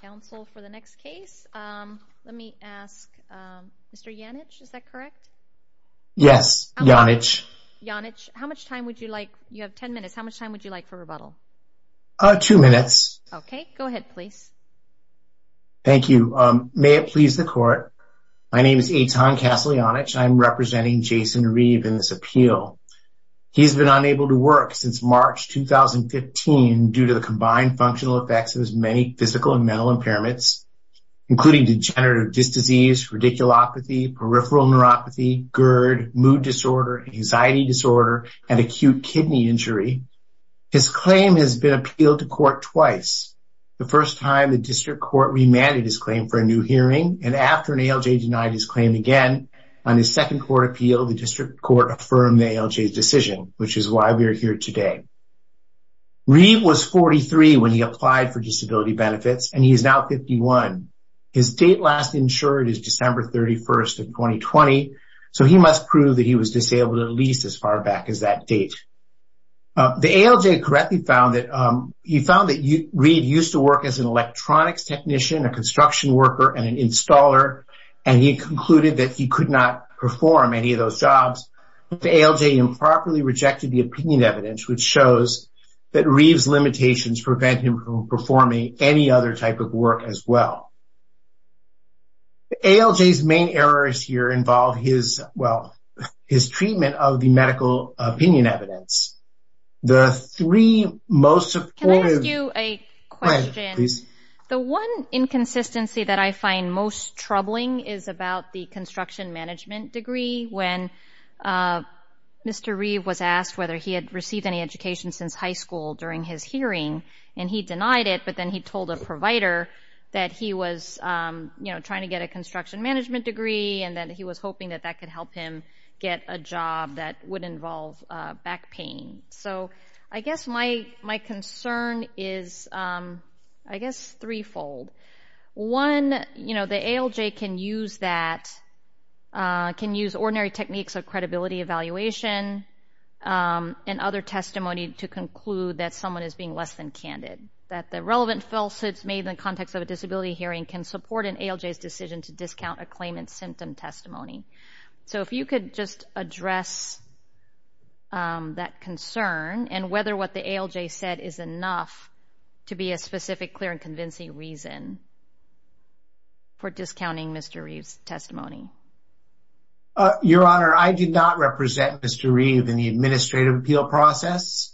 Council for the next case, let me ask Mr. Janich, is that correct? Yes, Janich. Janich, how much time would you like, you have 10 minutes, how much time would you like for rebuttal? Two minutes. Okay, go ahead please. Thank you. May it please the court, my name is Eitan Castle-Janich, I'm representing Jason Reeve in this appeal. He has been unable to work since March 2015 due to the combined functional effects of his many physical and mental impairments, including degenerative disc disease, radiculopathy, peripheral neuropathy, GERD, mood disorder, anxiety disorder, and acute kidney injury. His claim has been appealed to court twice. The first time the district court remanded his claim for a new hearing, and after an ALJ denied his claim again, on his second court appeal, the district court affirmed the ALJ's decision, which is why we are here today. Reeve was 43 when he applied for disability benefits, and he is now 51. His date last insured is December 31st of 2020, so he must prove that he was disabled at least as far back as that date. The ALJ correctly found that, he found that Reeve used to work as an electronics technician, a construction worker, and an installer, and he concluded that he could not perform any of those jobs. The ALJ improperly rejected the opinion evidence, which shows that Reeve's limitations prevent him from performing any other type of work as well. ALJ's main errors here involve his, well, his treatment of the medical opinion evidence. The three most important... Can I ask you a question? Please. The one inconsistency that I find most troubling is about the construction management degree. When Mr. Reeve was asked whether he had received any education since high school during his hearing, and he denied it, but then he told a provider that he was, you know, trying to get a construction management degree, and then he was hoping that that could help him get a job that would involve back pain. So I guess my concern is, I guess, threefold. One, you know, the ALJ can use that, can use ordinary techniques of credibility evaluation and other testimony to conclude that someone is being less than candid, that the relevant falsehoods made in the context of a disability hearing can support an ALJ's decision to discount a claimant's symptom testimony. So if you could just address that concern and whether what the ALJ said is enough to be a specific, clear, and convincing reason for discounting Mr. Reeve's testimony. Your Honor, I did not represent Mr. Reeve in the administrative appeal process.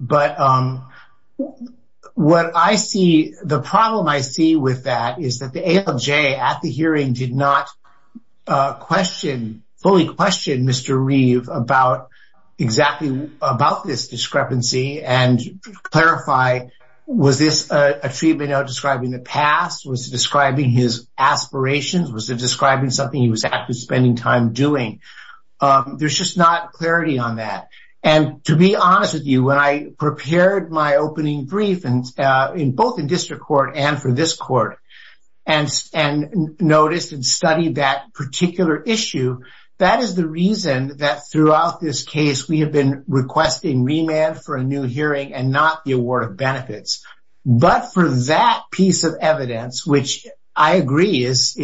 But what I see, the problem I see with that is that the ALJ at the hearing did not question, fully question Mr. Reeve about exactly about this discrepancy and clarify, was this a treatment out describing the past? Was it describing his aspirations? Was it describing something he was actively spending time doing? There's just not clarity on that. And to be honest with you, when I prepared my opening brief, both in district court and for this court, and noticed and studied that particular issue, that is the reason that throughout this case, we have been requesting remand for a new hearing and not the award of benefits. But for that piece of evidence, which I agree is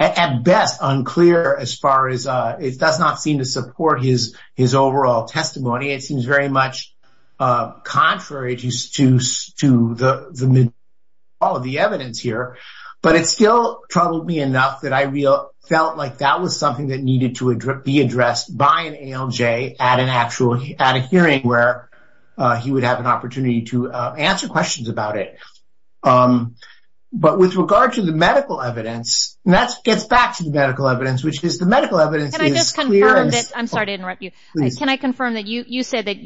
at best unclear as far as it does not seem to support his overall testimony. It seems very much contrary to all of the evidence here. But it still troubled me enough that I felt like that was something that needed to be addressed by an ALJ at a hearing where he would have an opportunity to answer questions about it. But with regard to the medical evidence, and that gets back to the medical evidence, which is the medical evidence is clear. Can I just confirm that, I'm sorry to interrupt you. Please. Can I confirm that you said that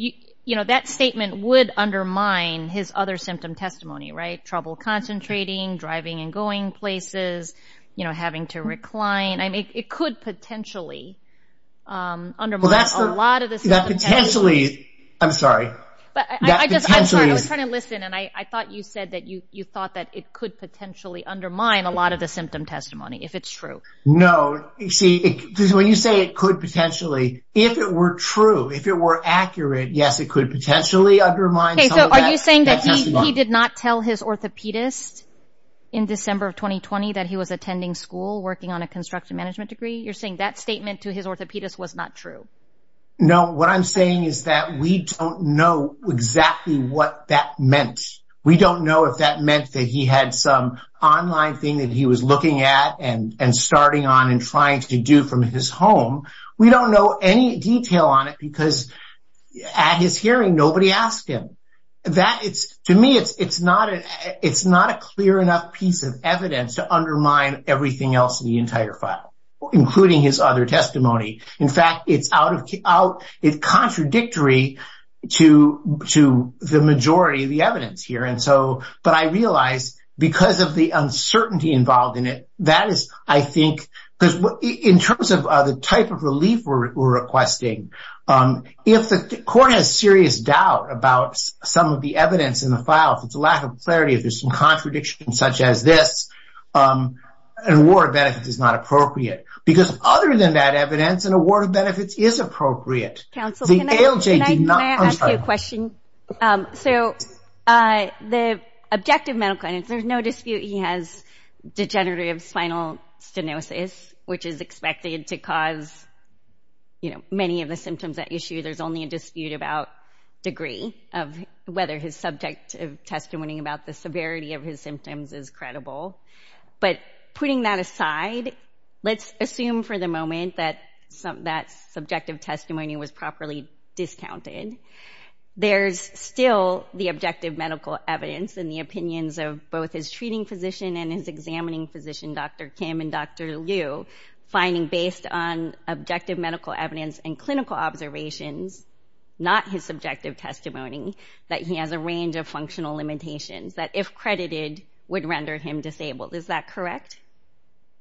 that statement would undermine his other symptom testimony, right? Trouble concentrating, driving and going places, having to recline. I mean, it could potentially undermine a lot of the symptom testimony. That potentially, I'm sorry. I'm sorry, I was trying to listen. And I thought you said that you thought that it could potentially undermine a lot of the symptom testimony, if it's true. No, see, when you say it could potentially, if it were true, if it were accurate, yes, it could potentially undermine some of that. Okay, so are you saying that he did not tell his orthopedist in December of 2020 that he was attending school working on a construction management degree? You're saying that statement to his orthopedist was not true? No, what I'm saying is that we don't know exactly what that meant. We don't know if that meant that he had some online thing that he was looking at and starting on and trying to do from his home. We don't know any detail on it because at his hearing, nobody asked him. To me, it's not a clear enough piece of evidence to undermine everything else in the entire file, including his other testimony. In fact, it's contradictory to the majority of the evidence here. But I realize because of the uncertainty involved in it, that is, I think, because in terms of the type of relief we're requesting, if the court has serious doubt about some of the evidence in the file, if it's a lack of clarity, if there's some contradiction such as this, an award of benefits is not appropriate. Because other than that evidence, an award of benefits is appropriate. Counsel, can I ask you a question? So the objective medical evidence, there's no dispute he has degenerative spinal stenosis, which is expected to cause many of the symptoms at issue. There's only a dispute about degree of whether his subjective testimony about the severity of his symptoms is credible. But putting that aside, let's assume for the moment that that subjective testimony was properly discounted. There's still the objective medical evidence and the opinions of both his treating physician and his examining physician, Dr. Kim and Dr. Liu, finding based on objective medical evidence and clinical observations, not his subjective testimony, that he has a range of functional limitations that, if credited, would render him disabled. Is that correct?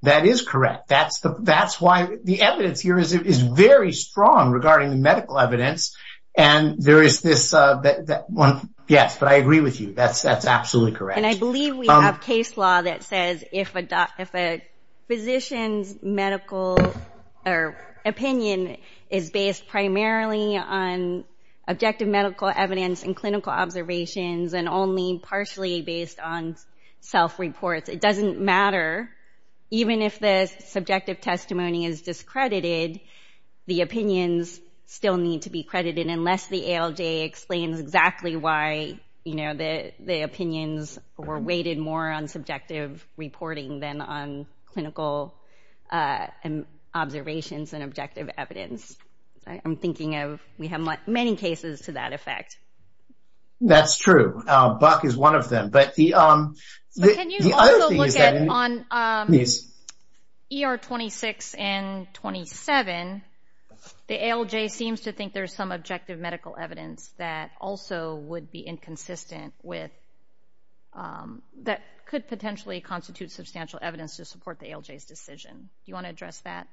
That is correct. That's why the evidence here is very strong regarding the medical evidence. And there is this, yes, but I agree with you. That's absolutely correct. And I believe we have case law that says if a physician's medical opinion is based primarily on objective medical evidence and clinical observations and only partially based on self-reports, it doesn't matter. Even if the subjective testimony is discredited, the opinions still need to be credited, unless the ALJ explains exactly why the opinions were weighted more on subjective reporting than on clinical observations and objective evidence. I'm thinking of we have many cases to that effect. That's true. Buck is one of them. Can you also look at on ER 26 and 27, the ALJ seems to think there's some objective medical evidence that also would be inconsistent with that could potentially constitute substantial evidence to support the ALJ's decision. Do you want to address that?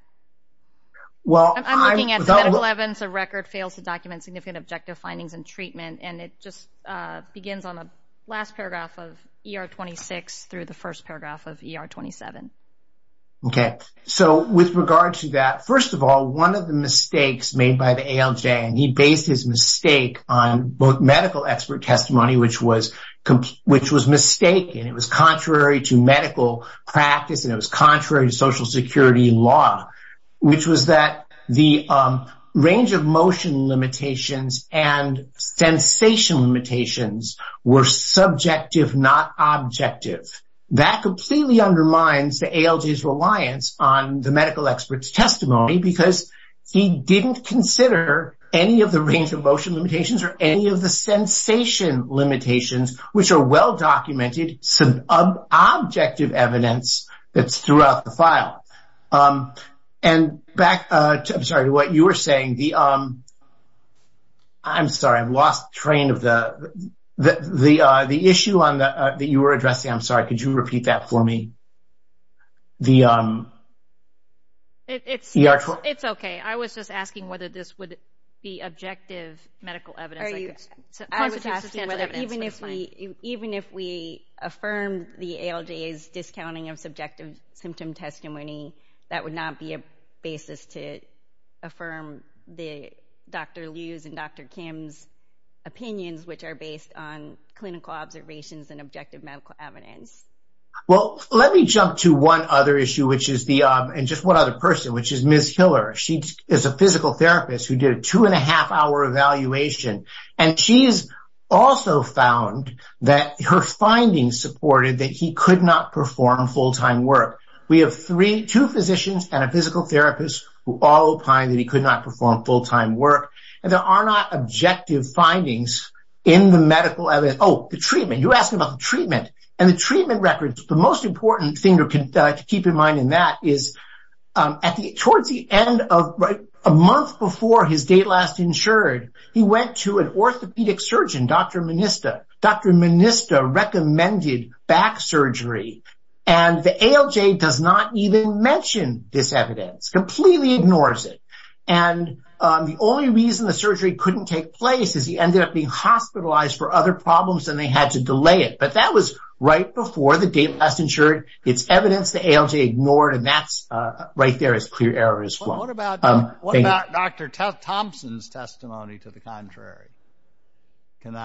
Well, I'm looking at 11. A record fails to document significant objective findings and treatment. And it just begins on the last paragraph of ER 26 through the first paragraph of ER 27. Okay. So with regard to that, first of all, one of the mistakes made by the ALJ, and he based his mistake on both medical expert testimony, which was mistaken. It was contrary to medical practice, and it was contrary to Social Security law, which was that the range of motion limitations and sensation limitations were subjective, not objective. That completely undermines the ALJ's reliance on the medical expert's testimony, because he didn't consider any of the range of motion limitations or any of the sensation limitations, which are well-documented, subjective evidence that's throughout the file. And back to what you were saying, I'm sorry, I've lost train of the issue that you were addressing. I'm sorry. Could you repeat that for me? It's okay. I was just asking whether this would be objective medical evidence. Even if we affirm the ALJ's discounting of subjective symptom testimony, that would not be a basis to affirm Dr. Liu's and Dr. Kim's opinions, which are based on clinical observations and objective medical evidence. Well, let me jump to one other issue, and just one other person, which is Ms. Hiller. She is a physical therapist who did a two-and-a-half-hour evaluation, and she's also found that her findings supported that he could not perform full-time work. We have two physicians and a physical therapist who all opine that he could not perform full-time work, and there are not objective findings in the medical evidence. Oh, the treatment. You asked about the treatment and the treatment records. The most important thing to keep in mind in that is towards the end of a month before his date last insured, he went to an orthopedic surgeon, Dr. Minista. Dr. Minista recommended back surgery, and the ALJ does not even mention this evidence, completely ignores it. The only reason the surgery couldn't take place is he ended up being hospitalized for other problems, and they had to delay it. But that was right before the date last insured. It's evidence the ALJ ignored, and that's right there as clear error as flow. What about Dr. Thompson's testimony to the contrary?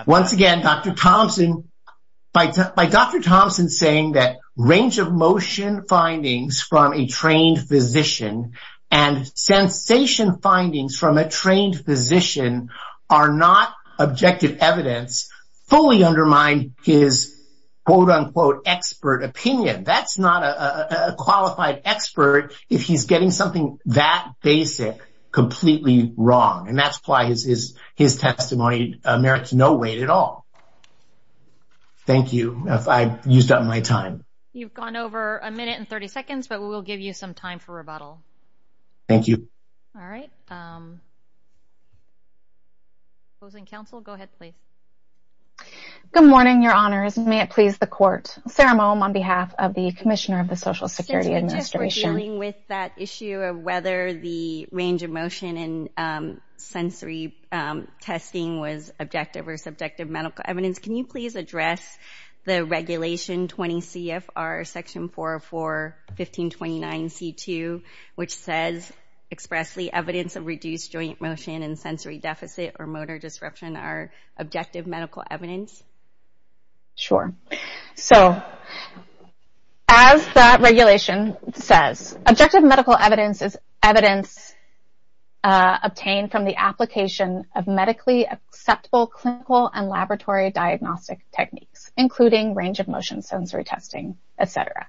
Once again, by Dr. Thompson saying that range-of-motion findings from a trained physician and sensation findings from a trained physician are not objective evidence, fully undermined his, quote-unquote, expert opinion. That's not a qualified expert if he's getting something that basic completely wrong, and that's why his testimony merits no weight at all. Thank you. I've used up my time. You've gone over a minute and 30 seconds, but we will give you some time for rebuttal. Thank you. All right. Opposing counsel, go ahead, please. Good morning, Your Honors. May it please the Court. Sarah Mohm on behalf of the Commissioner of the Social Security Administration. Since we're just dealing with that issue of whether the range-of-motion and sensory testing was objective or subjective medical evidence, can you please address the Regulation 20 CFR Section 404-1529-C2, which says expressly evidence of reduced joint motion and sensory deficit or motor disruption are objective medical evidence? Sure. So, as that regulation says, objective medical evidence is evidence obtained from the application of medically acceptable clinical and laboratory diagnostic techniques, including range-of-motion sensory testing, et cetera.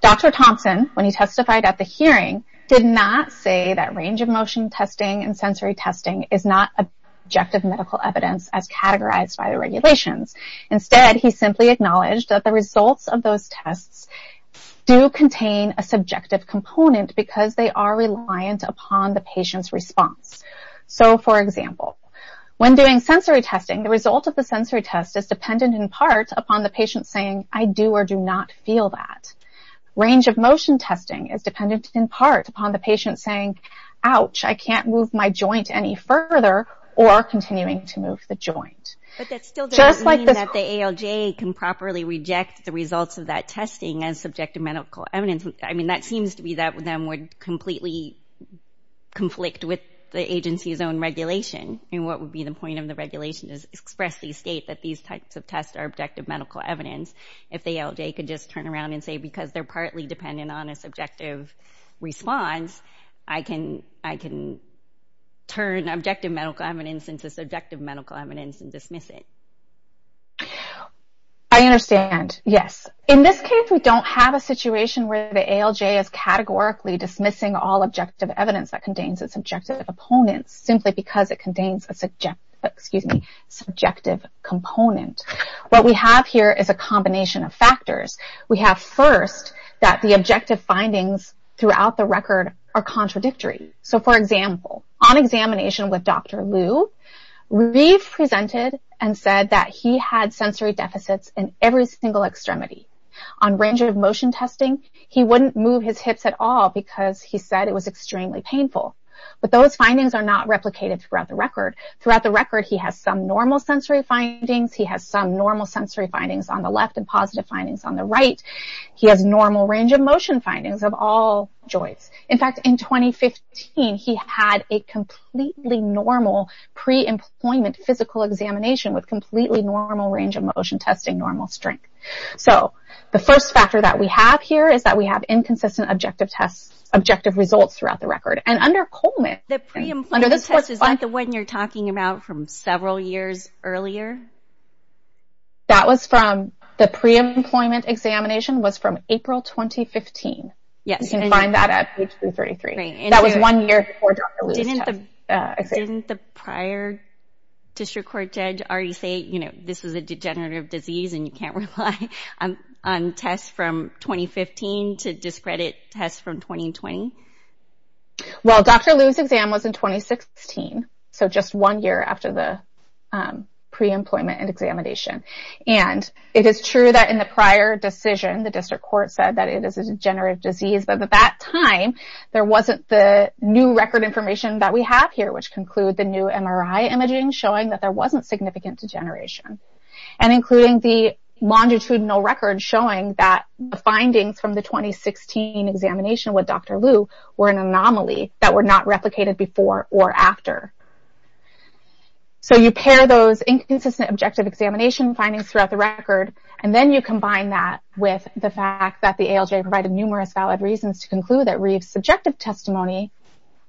Dr. Thompson, when he testified at the hearing, did not say that range-of-motion testing and sensory testing is not objective medical evidence as categorized by the regulations. Instead, he simply acknowledged that the results of those tests do contain a subjective component because they are reliant upon the patient's response. So, for example, when doing sensory testing, the result of the sensory test is dependent in part upon the patient saying, I do or do not feel that. Range-of-motion testing is dependent in part upon the patient saying, Ouch, I can't move my joint any further or continuing to move the joint. But that still does not mean that the ALJ can properly reject the results of that testing as subjective medical evidence. I mean, that seems to be that would completely conflict with the agency's own regulation. I mean, what would be the point of the regulation is express the state that these types of tests are objective medical evidence. If the ALJ could just turn around and say, because they're partly dependent on a subjective response, I can turn objective medical evidence into subjective medical evidence and dismiss it. I understand, yes. In this case, we don't have a situation where the ALJ is categorically dismissing all objective evidence that contains a subjective opponent simply because it contains a subjective component. What we have here is a combination of factors. We have, first, that the objective findings throughout the record are contradictory. So, for example, on examination with Dr. Liu, we presented and said that he had sensory deficits in every single extremity. On range of motion testing, he wouldn't move his hips at all because he said it was extremely painful. But those findings are not replicated throughout the record. Throughout the record, he has some normal sensory findings. He has some normal sensory findings on the left and positive findings on the right. He has normal range of motion findings of all joints. In fact, in 2015, he had a completely normal pre-employment physical examination with completely normal range of motion testing, normal strength. So, the first factor that we have here is that we have inconsistent objective results throughout the record. And under Coleman... The pre-employment test is that the one you're talking about from several years earlier? That was from the pre-employment examination was from April 2015. You can find that at page 333. That was one year before Dr. Liu's test. Didn't the prior district court judge already say, you know, this is a degenerative disease and you can't rely on tests from 2015 to discredit tests from 2020? Well, Dr. Liu's exam was in 2016. So, just one year after the pre-employment and examination. And it is true that in the prior decision, the district court said that it is a degenerative disease. But at that time, there wasn't the new record information that we have here, which conclude the new MRI imaging showing that there wasn't significant degeneration. And including the longitudinal record showing that the findings from the 2016 examination with Dr. Liu were an anomaly that were not replicated before or after. So, you pair those inconsistent objective examination findings throughout the record and then you combine that with the fact that the ALJ provided numerous valid reasons to conclude that Reeve's subjective testimony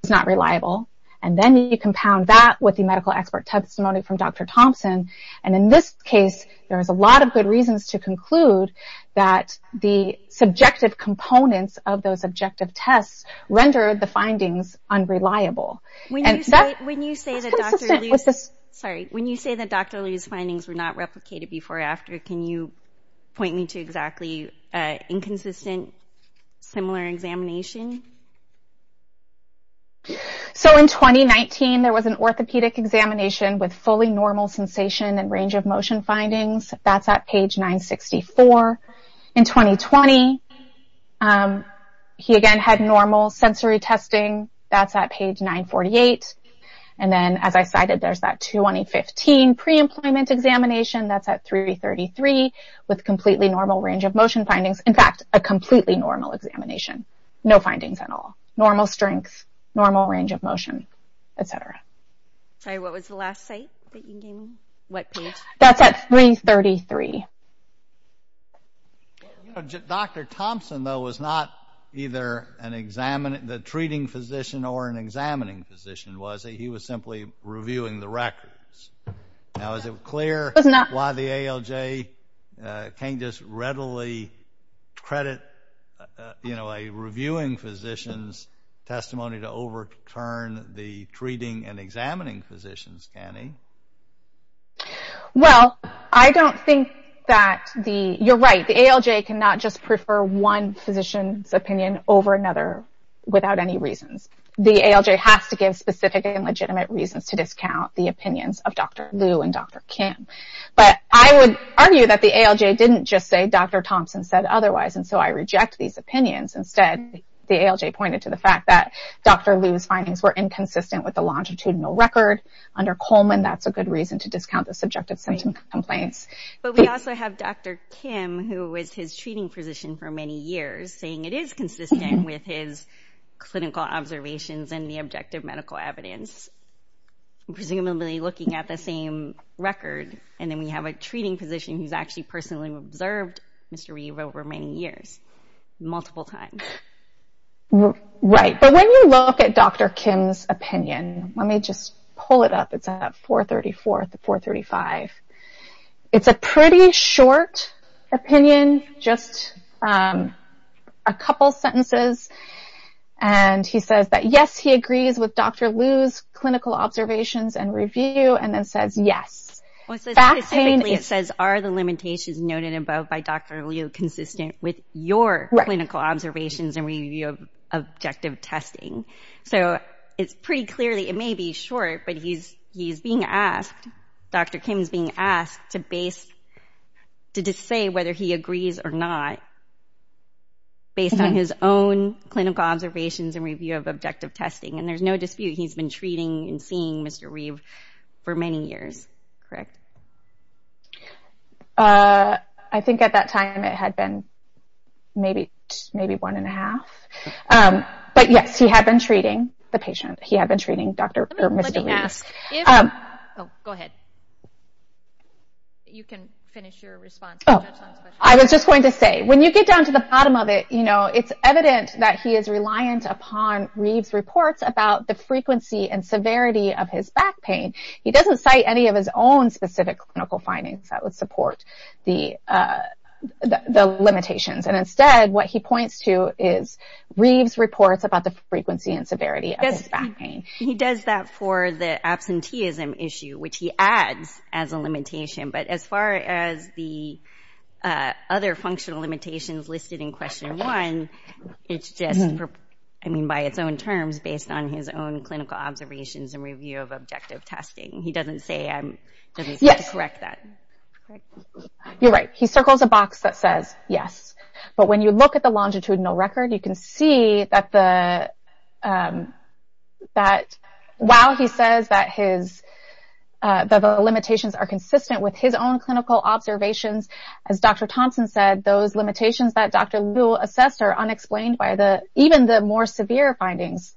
is not reliable. And then you compound that with the medical expert testimony from Dr. Thompson. And in this case, there is a lot of good reasons to conclude that the subjective components of those objective tests rendered the findings unreliable. When you say that Dr. Liu's findings were not replicated before or after, can you point me to exactly inconsistent similar examination? So, in 2019, there was an orthopedic examination with fully normal sensation and range of motion findings. That's at page 964. In 2020, he again had normal sensory testing. That's at page 948. And then, as I cited, there's that 2015 pre-employment examination. That's at 333. With completely normal range of motion findings. In fact, a completely normal examination. No findings at all. Normal strength, normal range of motion, etc. Sorry, what was the last site that you gave me? What page? That's at 333. Dr. Thompson, though, was not either the treating physician or an examining physician, was he? He was simply reviewing the records. Now, is it clear why the ALJ can't just readily credit a reviewing physician's testimony to overturn the treating and examining physician's, Annie? Well, I don't think that the... You're right. The ALJ cannot just prefer one physician's opinion over another without any reasons. The ALJ has to give specific and legitimate reasons to discount the opinions of Dr. Liu and Dr. Kim. But I would argue that the ALJ didn't just say Dr. Thompson said otherwise, and so I reject these opinions. Instead, the ALJ pointed to the fact that Dr. Liu's findings were inconsistent with the longitudinal record. Under Coleman, that's a good reason to discount the subjective symptom complaints. But we also have Dr. Kim, who was his treating physician for many years, saying it is consistent with his clinical observations and the objective medical evidence. Presumably looking at the same record. And then we have a treating physician who's actually personally observed Mr. Liu over many years. Multiple times. Right. But when you look at Dr. Kim's opinion, let me just pull it up. It's at 434 to 435. It's a pretty short opinion, just a couple sentences. And he says that yes, he agrees with Dr. Liu's clinical observations and review, and then says yes. Specifically, it says, are the limitations noted above by Dr. Liu consistent with your clinical observations and review of objective testing? So it's pretty clearly, it may be short, but he's being asked, Dr. Kim's being asked to base, to say whether he agrees or not based on his own clinical observations and review of objective testing. And there's no dispute, he's been treating and seeing Mr. Liu for many years. Correct. I think at that time it had been maybe one and a half. But yes, he had been treating the patient. He had been treating Mr. Liu. Let me ask. Go ahead. You can finish your response. I was just going to say, when you get down to the bottom of it, it's evident that he is reliant upon Reeve's reports about the frequency and severity of his back pain. He doesn't cite any of his own specific clinical findings that would support the limitations. And instead, what he points to is Reeve's reports about the frequency and severity of his back pain. He does that for the absenteeism issue, which he adds as a limitation. But as far as the other functional limitations listed in question one, it's just, I mean, by its own terms, based on his own clinical observations and review of objective testing. He doesn't say, correct that. You're right. He circles a box that says yes. But when you look at the longitudinal record, you can see that while he says that his, that the limitations are consistent with his own clinical observations, as Dr. Thompson said, those limitations that Dr. Liu assessed are unexplained by even the more severe findings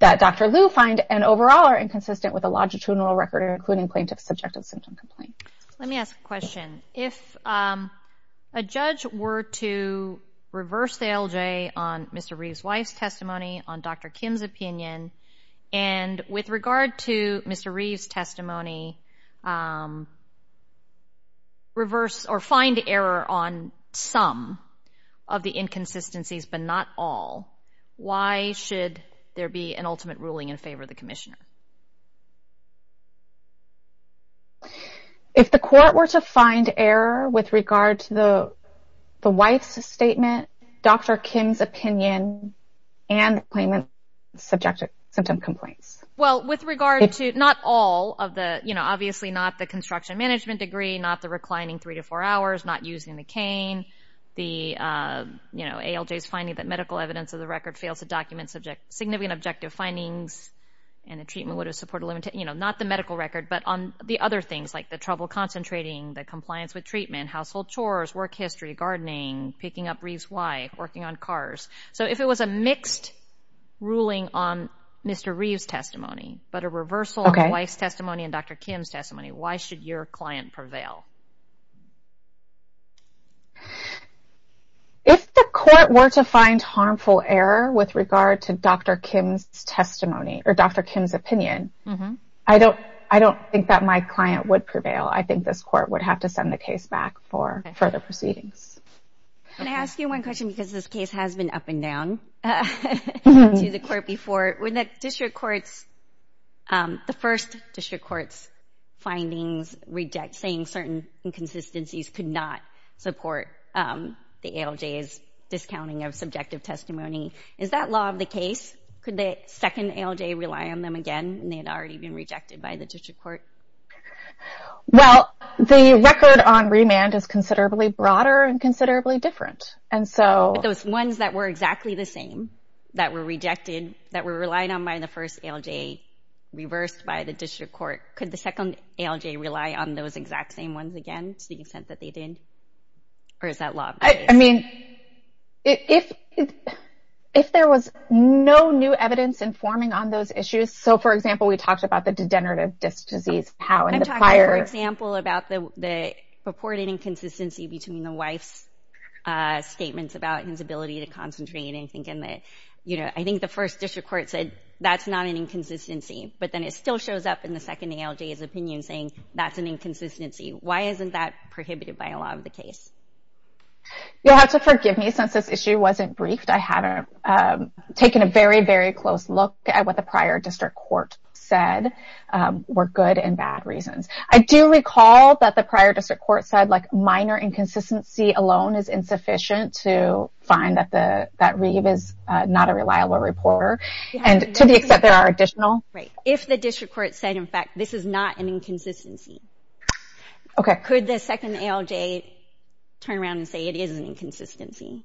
that Dr. Liu finds, and overall are inconsistent with the longitudinal record, including plaintiff's subjective symptom complaint. Let me ask a question. If a judge were to reverse the LJ on Mr. Reeve's wife's testimony, on Dr. Kim's opinion, and with regard to Mr. Reeve's testimony, reverse or find error on some of the inconsistencies but not all, why should there be an ultimate ruling in favor of the commissioner? If the court were to find error with regard to the wife's statement, Dr. Kim's opinion, and the plaintiff's subjective symptom complaints? Well, with regard to not all of the, you know, obviously not the construction management degree, not the reclining three to four hours, not using the cane, the, you know, ALJ's finding that medical evidence of the record fails to document significant objective findings, and the treatment would have supported, you know, not the medical record, but on the other things, like the trouble concentrating, the compliance with treatment, household chores, work history, gardening, picking up Reeve's wife, working on cars. So if it was a mixed ruling on Mr. Reeve's testimony, but a reversal on the wife's testimony and Dr. Kim's testimony, why should your client prevail? If the court were to find harmful error with regard to Dr. Kim's testimony or Dr. Kim's opinion, I don't think that my client would prevail. I think this court would have to send the case back for further proceedings. Can I ask you one question, because this case has been up and down to the court before. When the district court's, the first district court's findings reject, saying certain inconsistencies could not support the ALJ's discounting of subjective testimony, is that law of the case? Could the second ALJ rely on them again, and they had already been rejected by the district court? Well, the record on remand is considerably broader and considerably different. But those ones that were exactly the same, that were rejected, that were relied on by the first ALJ, reversed by the district court, could the second ALJ rely on those exact same ones again, to the extent that they did? Or is that law of the case? I mean, if there was no new evidence informing on those issues, so, for example, we talked about the degenerative disc disease. I'm talking, for example, about the purported inconsistency between the wife's statements about his ability to concentrate. I think the first district court said, that's not an inconsistency. But then it still shows up in the second ALJ's opinion, saying that's an inconsistency. Why isn't that prohibited by law of the case? You'll have to forgive me, since this issue wasn't briefed. I haven't taken a very, very close look at what the prior district court said were good and bad reasons. I do recall that the prior district court said, like, minor inconsistency alone is insufficient to find that Reeve is not a reliable reporter. And to the extent there are additional... If the district court said, in fact, this is not an inconsistency, could the second ALJ turn around and say it is an inconsistency?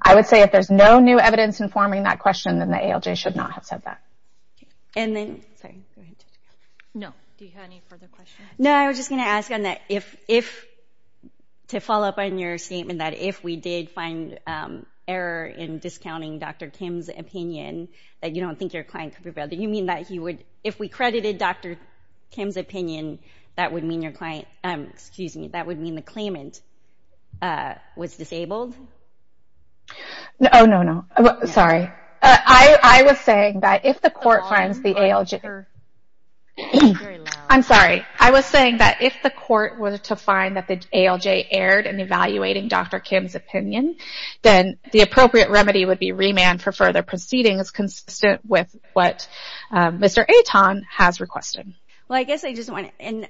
I would say, if there's no new evidence informing that question, then the ALJ should not have said that. And then... No, do you have any further questions? No, I was just going to ask, to follow up on your statement, that if we did find error in discounting Dr. Kim's opinion, that you don't think your client could be... Do you mean that if we credited Dr. Kim's opinion, that would mean the claimant was disabled? Oh, no, no. Sorry. I was saying that if the court finds the ALJ... I'm sorry. I was saying that if the court were to find that the ALJ erred in evaluating Dr. Kim's opinion, then the appropriate remedy would be remand for further proceedings consistent with what Mr. Aton has requested. Well, I guess I just want to...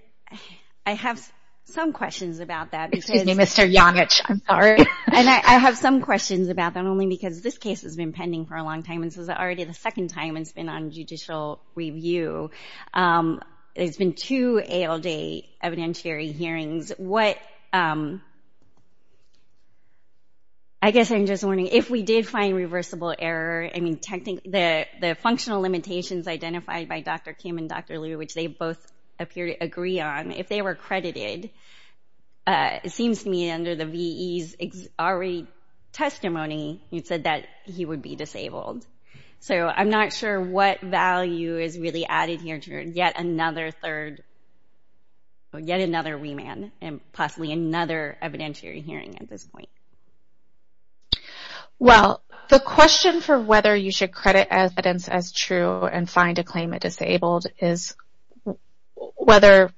I have some questions about that. Excuse me, Mr. Janich, I'm sorry. And I have some questions about that, only because this case has been pending for a long time, and this is already the second time it's been on judicial review. There's been two ALJ evidentiary hearings. What... I guess I'm just wondering, if we did find reversible error, I mean, the functional limitations identified by Dr. Kim and Dr. Liu, which they both appear to agree on, if they were credited, it seems to me under the VE's already testimony, you said that he would be disabled. So I'm not sure what value is really added here to yet another third... yet another remand, and possibly another evidentiary hearing at this point. Well, the question for whether you should credit evidence as true and find a claimant disabled is whether...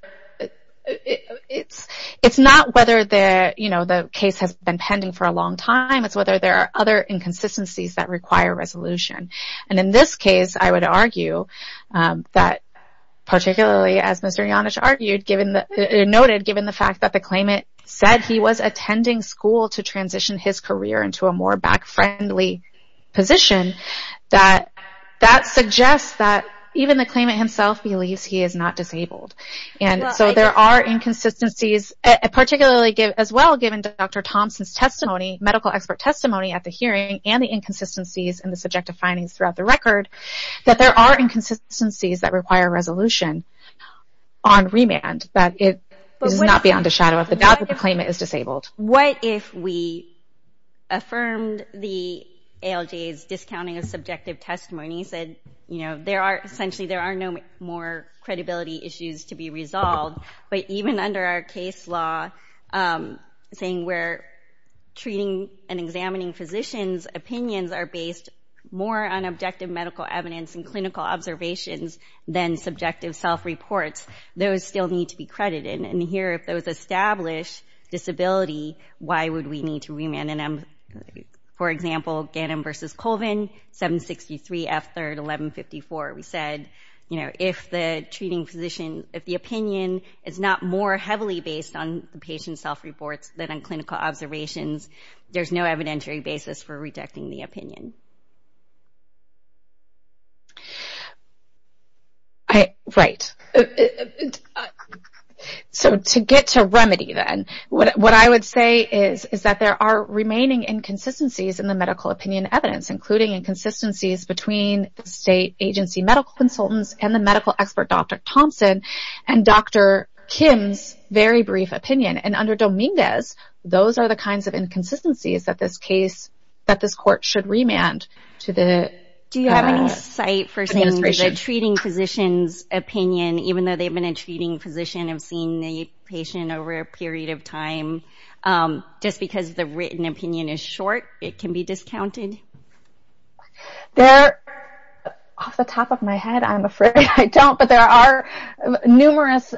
It's not whether the case has been pending for a long time, it's whether there are other inconsistencies that require resolution. And in this case, I would argue that, particularly as Mr. Janich noted, given the fact that the claimant said he was attending school to transition his career into a more back-friendly position, that that suggests that even the claimant himself believes he is not disabled. And so there are inconsistencies, particularly as well given Dr. Thompson's testimony, medical expert testimony at the hearing, and the inconsistencies in the subjective findings throughout the record, that there are inconsistencies that require resolution on remand, that it is not beyond a shadow of a doubt that the claimant is disabled. What if we affirmed the ALJ's discounting of subjective testimonies, and said, you know, essentially there are no more credibility issues to be resolved, but even under our case law, saying where treating and examining physicians' opinions are based more on objective medical evidence and clinical observations than subjective self-reports, those still need to be credited. And here, if those establish disability, why would we need to remand? For example, Gannon v. Colvin, 763 F. 3rd, 1154. We said, you know, if the treating physician, if the opinion is not more heavily based on the patient's self-reports than on clinical observations, there's no evidentiary basis for rejecting the opinion. Right. So, to get to remedy, then. What I would say is that there are remaining inconsistencies in the medical opinion evidence, including inconsistencies between state agency medical consultants and the medical expert, Dr. Thompson, and Dr. Kim's very brief opinion. And under Dominguez, those are the kinds of inconsistencies that this case, that this court should remand to the administration. The treating physician's opinion, even though they've been a treating physician and have seen the patient over a period of time, just because the written opinion is short, it can be discounted? Off the top of my head, I'm afraid I don't. But there are numerous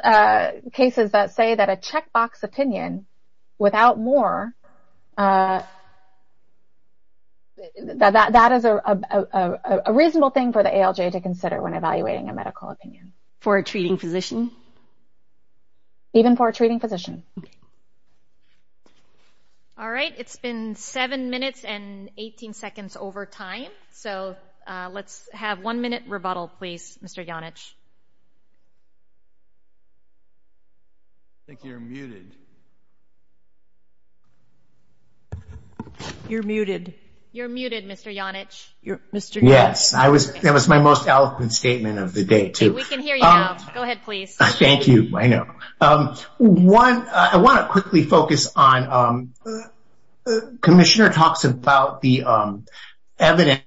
cases that say that a checkbox opinion, without more, that is a reasonable thing for the ALJ to consider when evaluating a medical opinion. For a treating physician? Even for a treating physician. All right. It's been 7 minutes and 18 seconds over time. So, let's have one minute rebuttal, please, Mr. Janich. I think you're muted. You're muted. You're muted, Mr. Janich. Yes. That was my most eloquent statement of the day, too. We can hear you now. Go ahead, please. Thank you. I know. I want to quickly focus on, Commissioner talks about the evidence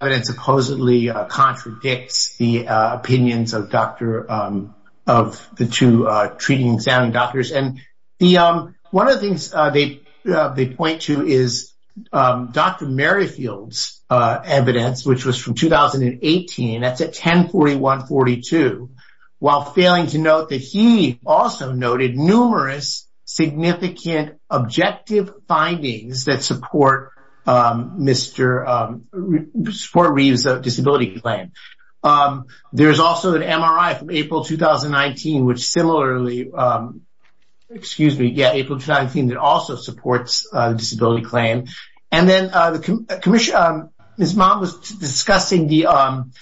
that supposedly contradicts the opinions of the two treating examining doctors. One of the things they point to is Dr. Merrifield's evidence, which was from 2018, that's at 1041-42, while failing to note that he also noted numerous significant objective findings that support Reeve's disability claim. There's also an MRI from April 2019, which similarly, excuse me, yeah, April 2019, that also supports the disability claim. And then Ms. Mott was discussing the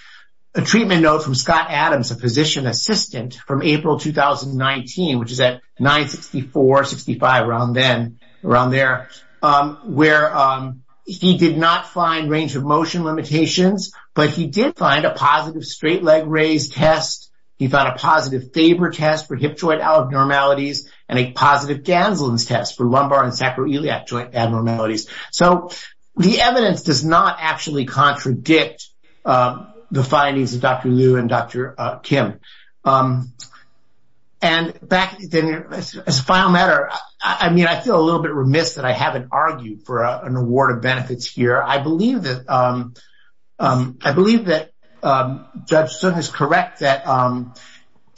treatment note from Scott Adams, a physician assistant, from April 2019, which is at 964-65, around then, around there, where he did not find range of motion limitations, but he did find a positive straight leg raise test. He found a positive Faber test for hip joint abnormalities, and a positive Ganselin's test for lumbar and sacroiliac joint abnormalities. So the evidence does not actually contradict the findings of Dr. Liu and Dr. Kim. And back, as a final matter, I mean, I feel a little bit remiss that I haven't argued for an award of benefits here. I believe that Judge Sun has correct that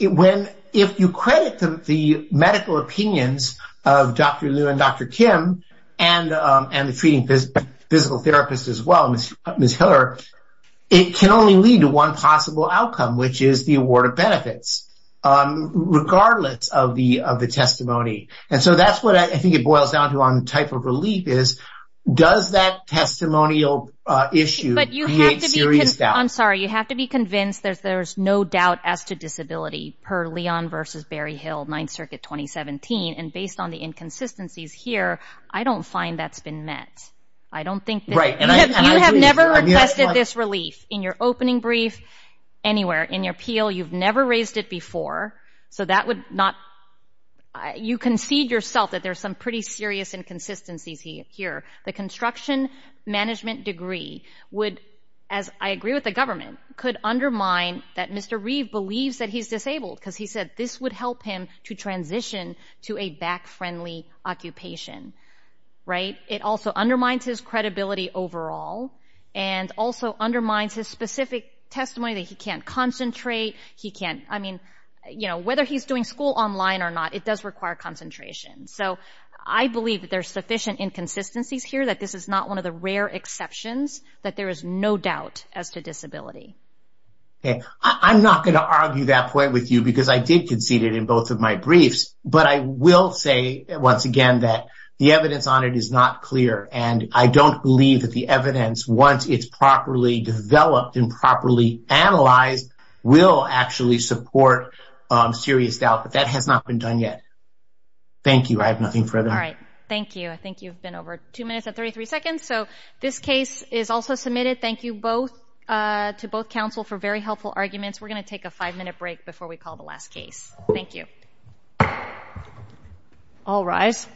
when, if you credit the medical opinions of Dr. Liu and Dr. Kim, and the treating physical therapist as well, Ms. Hiller, it can only lead to one possible outcome, which is the award of benefits, regardless of the testimony. And so that's what I think it boils down to on type of relief is, does that testimonial issue create serious doubt? I'm sorry. You have to be convinced that there's no doubt as to disability, per Leon versus Barry Hill, 9th Circuit 2017. And based on the inconsistencies here, I don't find that's been met. I don't think this is. You have never requested this relief in your opening brief, anywhere. In your appeal, you've never raised it before, so that would not. You concede yourself that there's some pretty serious inconsistencies here. The construction management degree would, as I agree with the government, could undermine that Mr. Reeve believes that he's disabled, because he said this would help him to transition to a back-friendly occupation. It also undermines his credibility overall, and also undermines his specific testimony that he can't concentrate. I mean, whether he's doing school online or not, it does require concentration. So I believe that there's sufficient inconsistencies here, that this is not one of the rare exceptions, that there is no doubt as to disability. I'm not going to argue that point with you, because I did concede it in both of my briefs. But I will say, once again, that the evidence on it is not clear, and I don't believe that the evidence, once it's properly developed and properly analyzed, will actually support serious doubt. But that has not been done yet. Thank you. I have nothing further. All right. Thank you. I think you've been over two minutes and 33 seconds. So this case is also submitted. Thank you to both counsel for very helpful arguments. We're going to take a five-minute break before we call the last case. Thank you. All rise.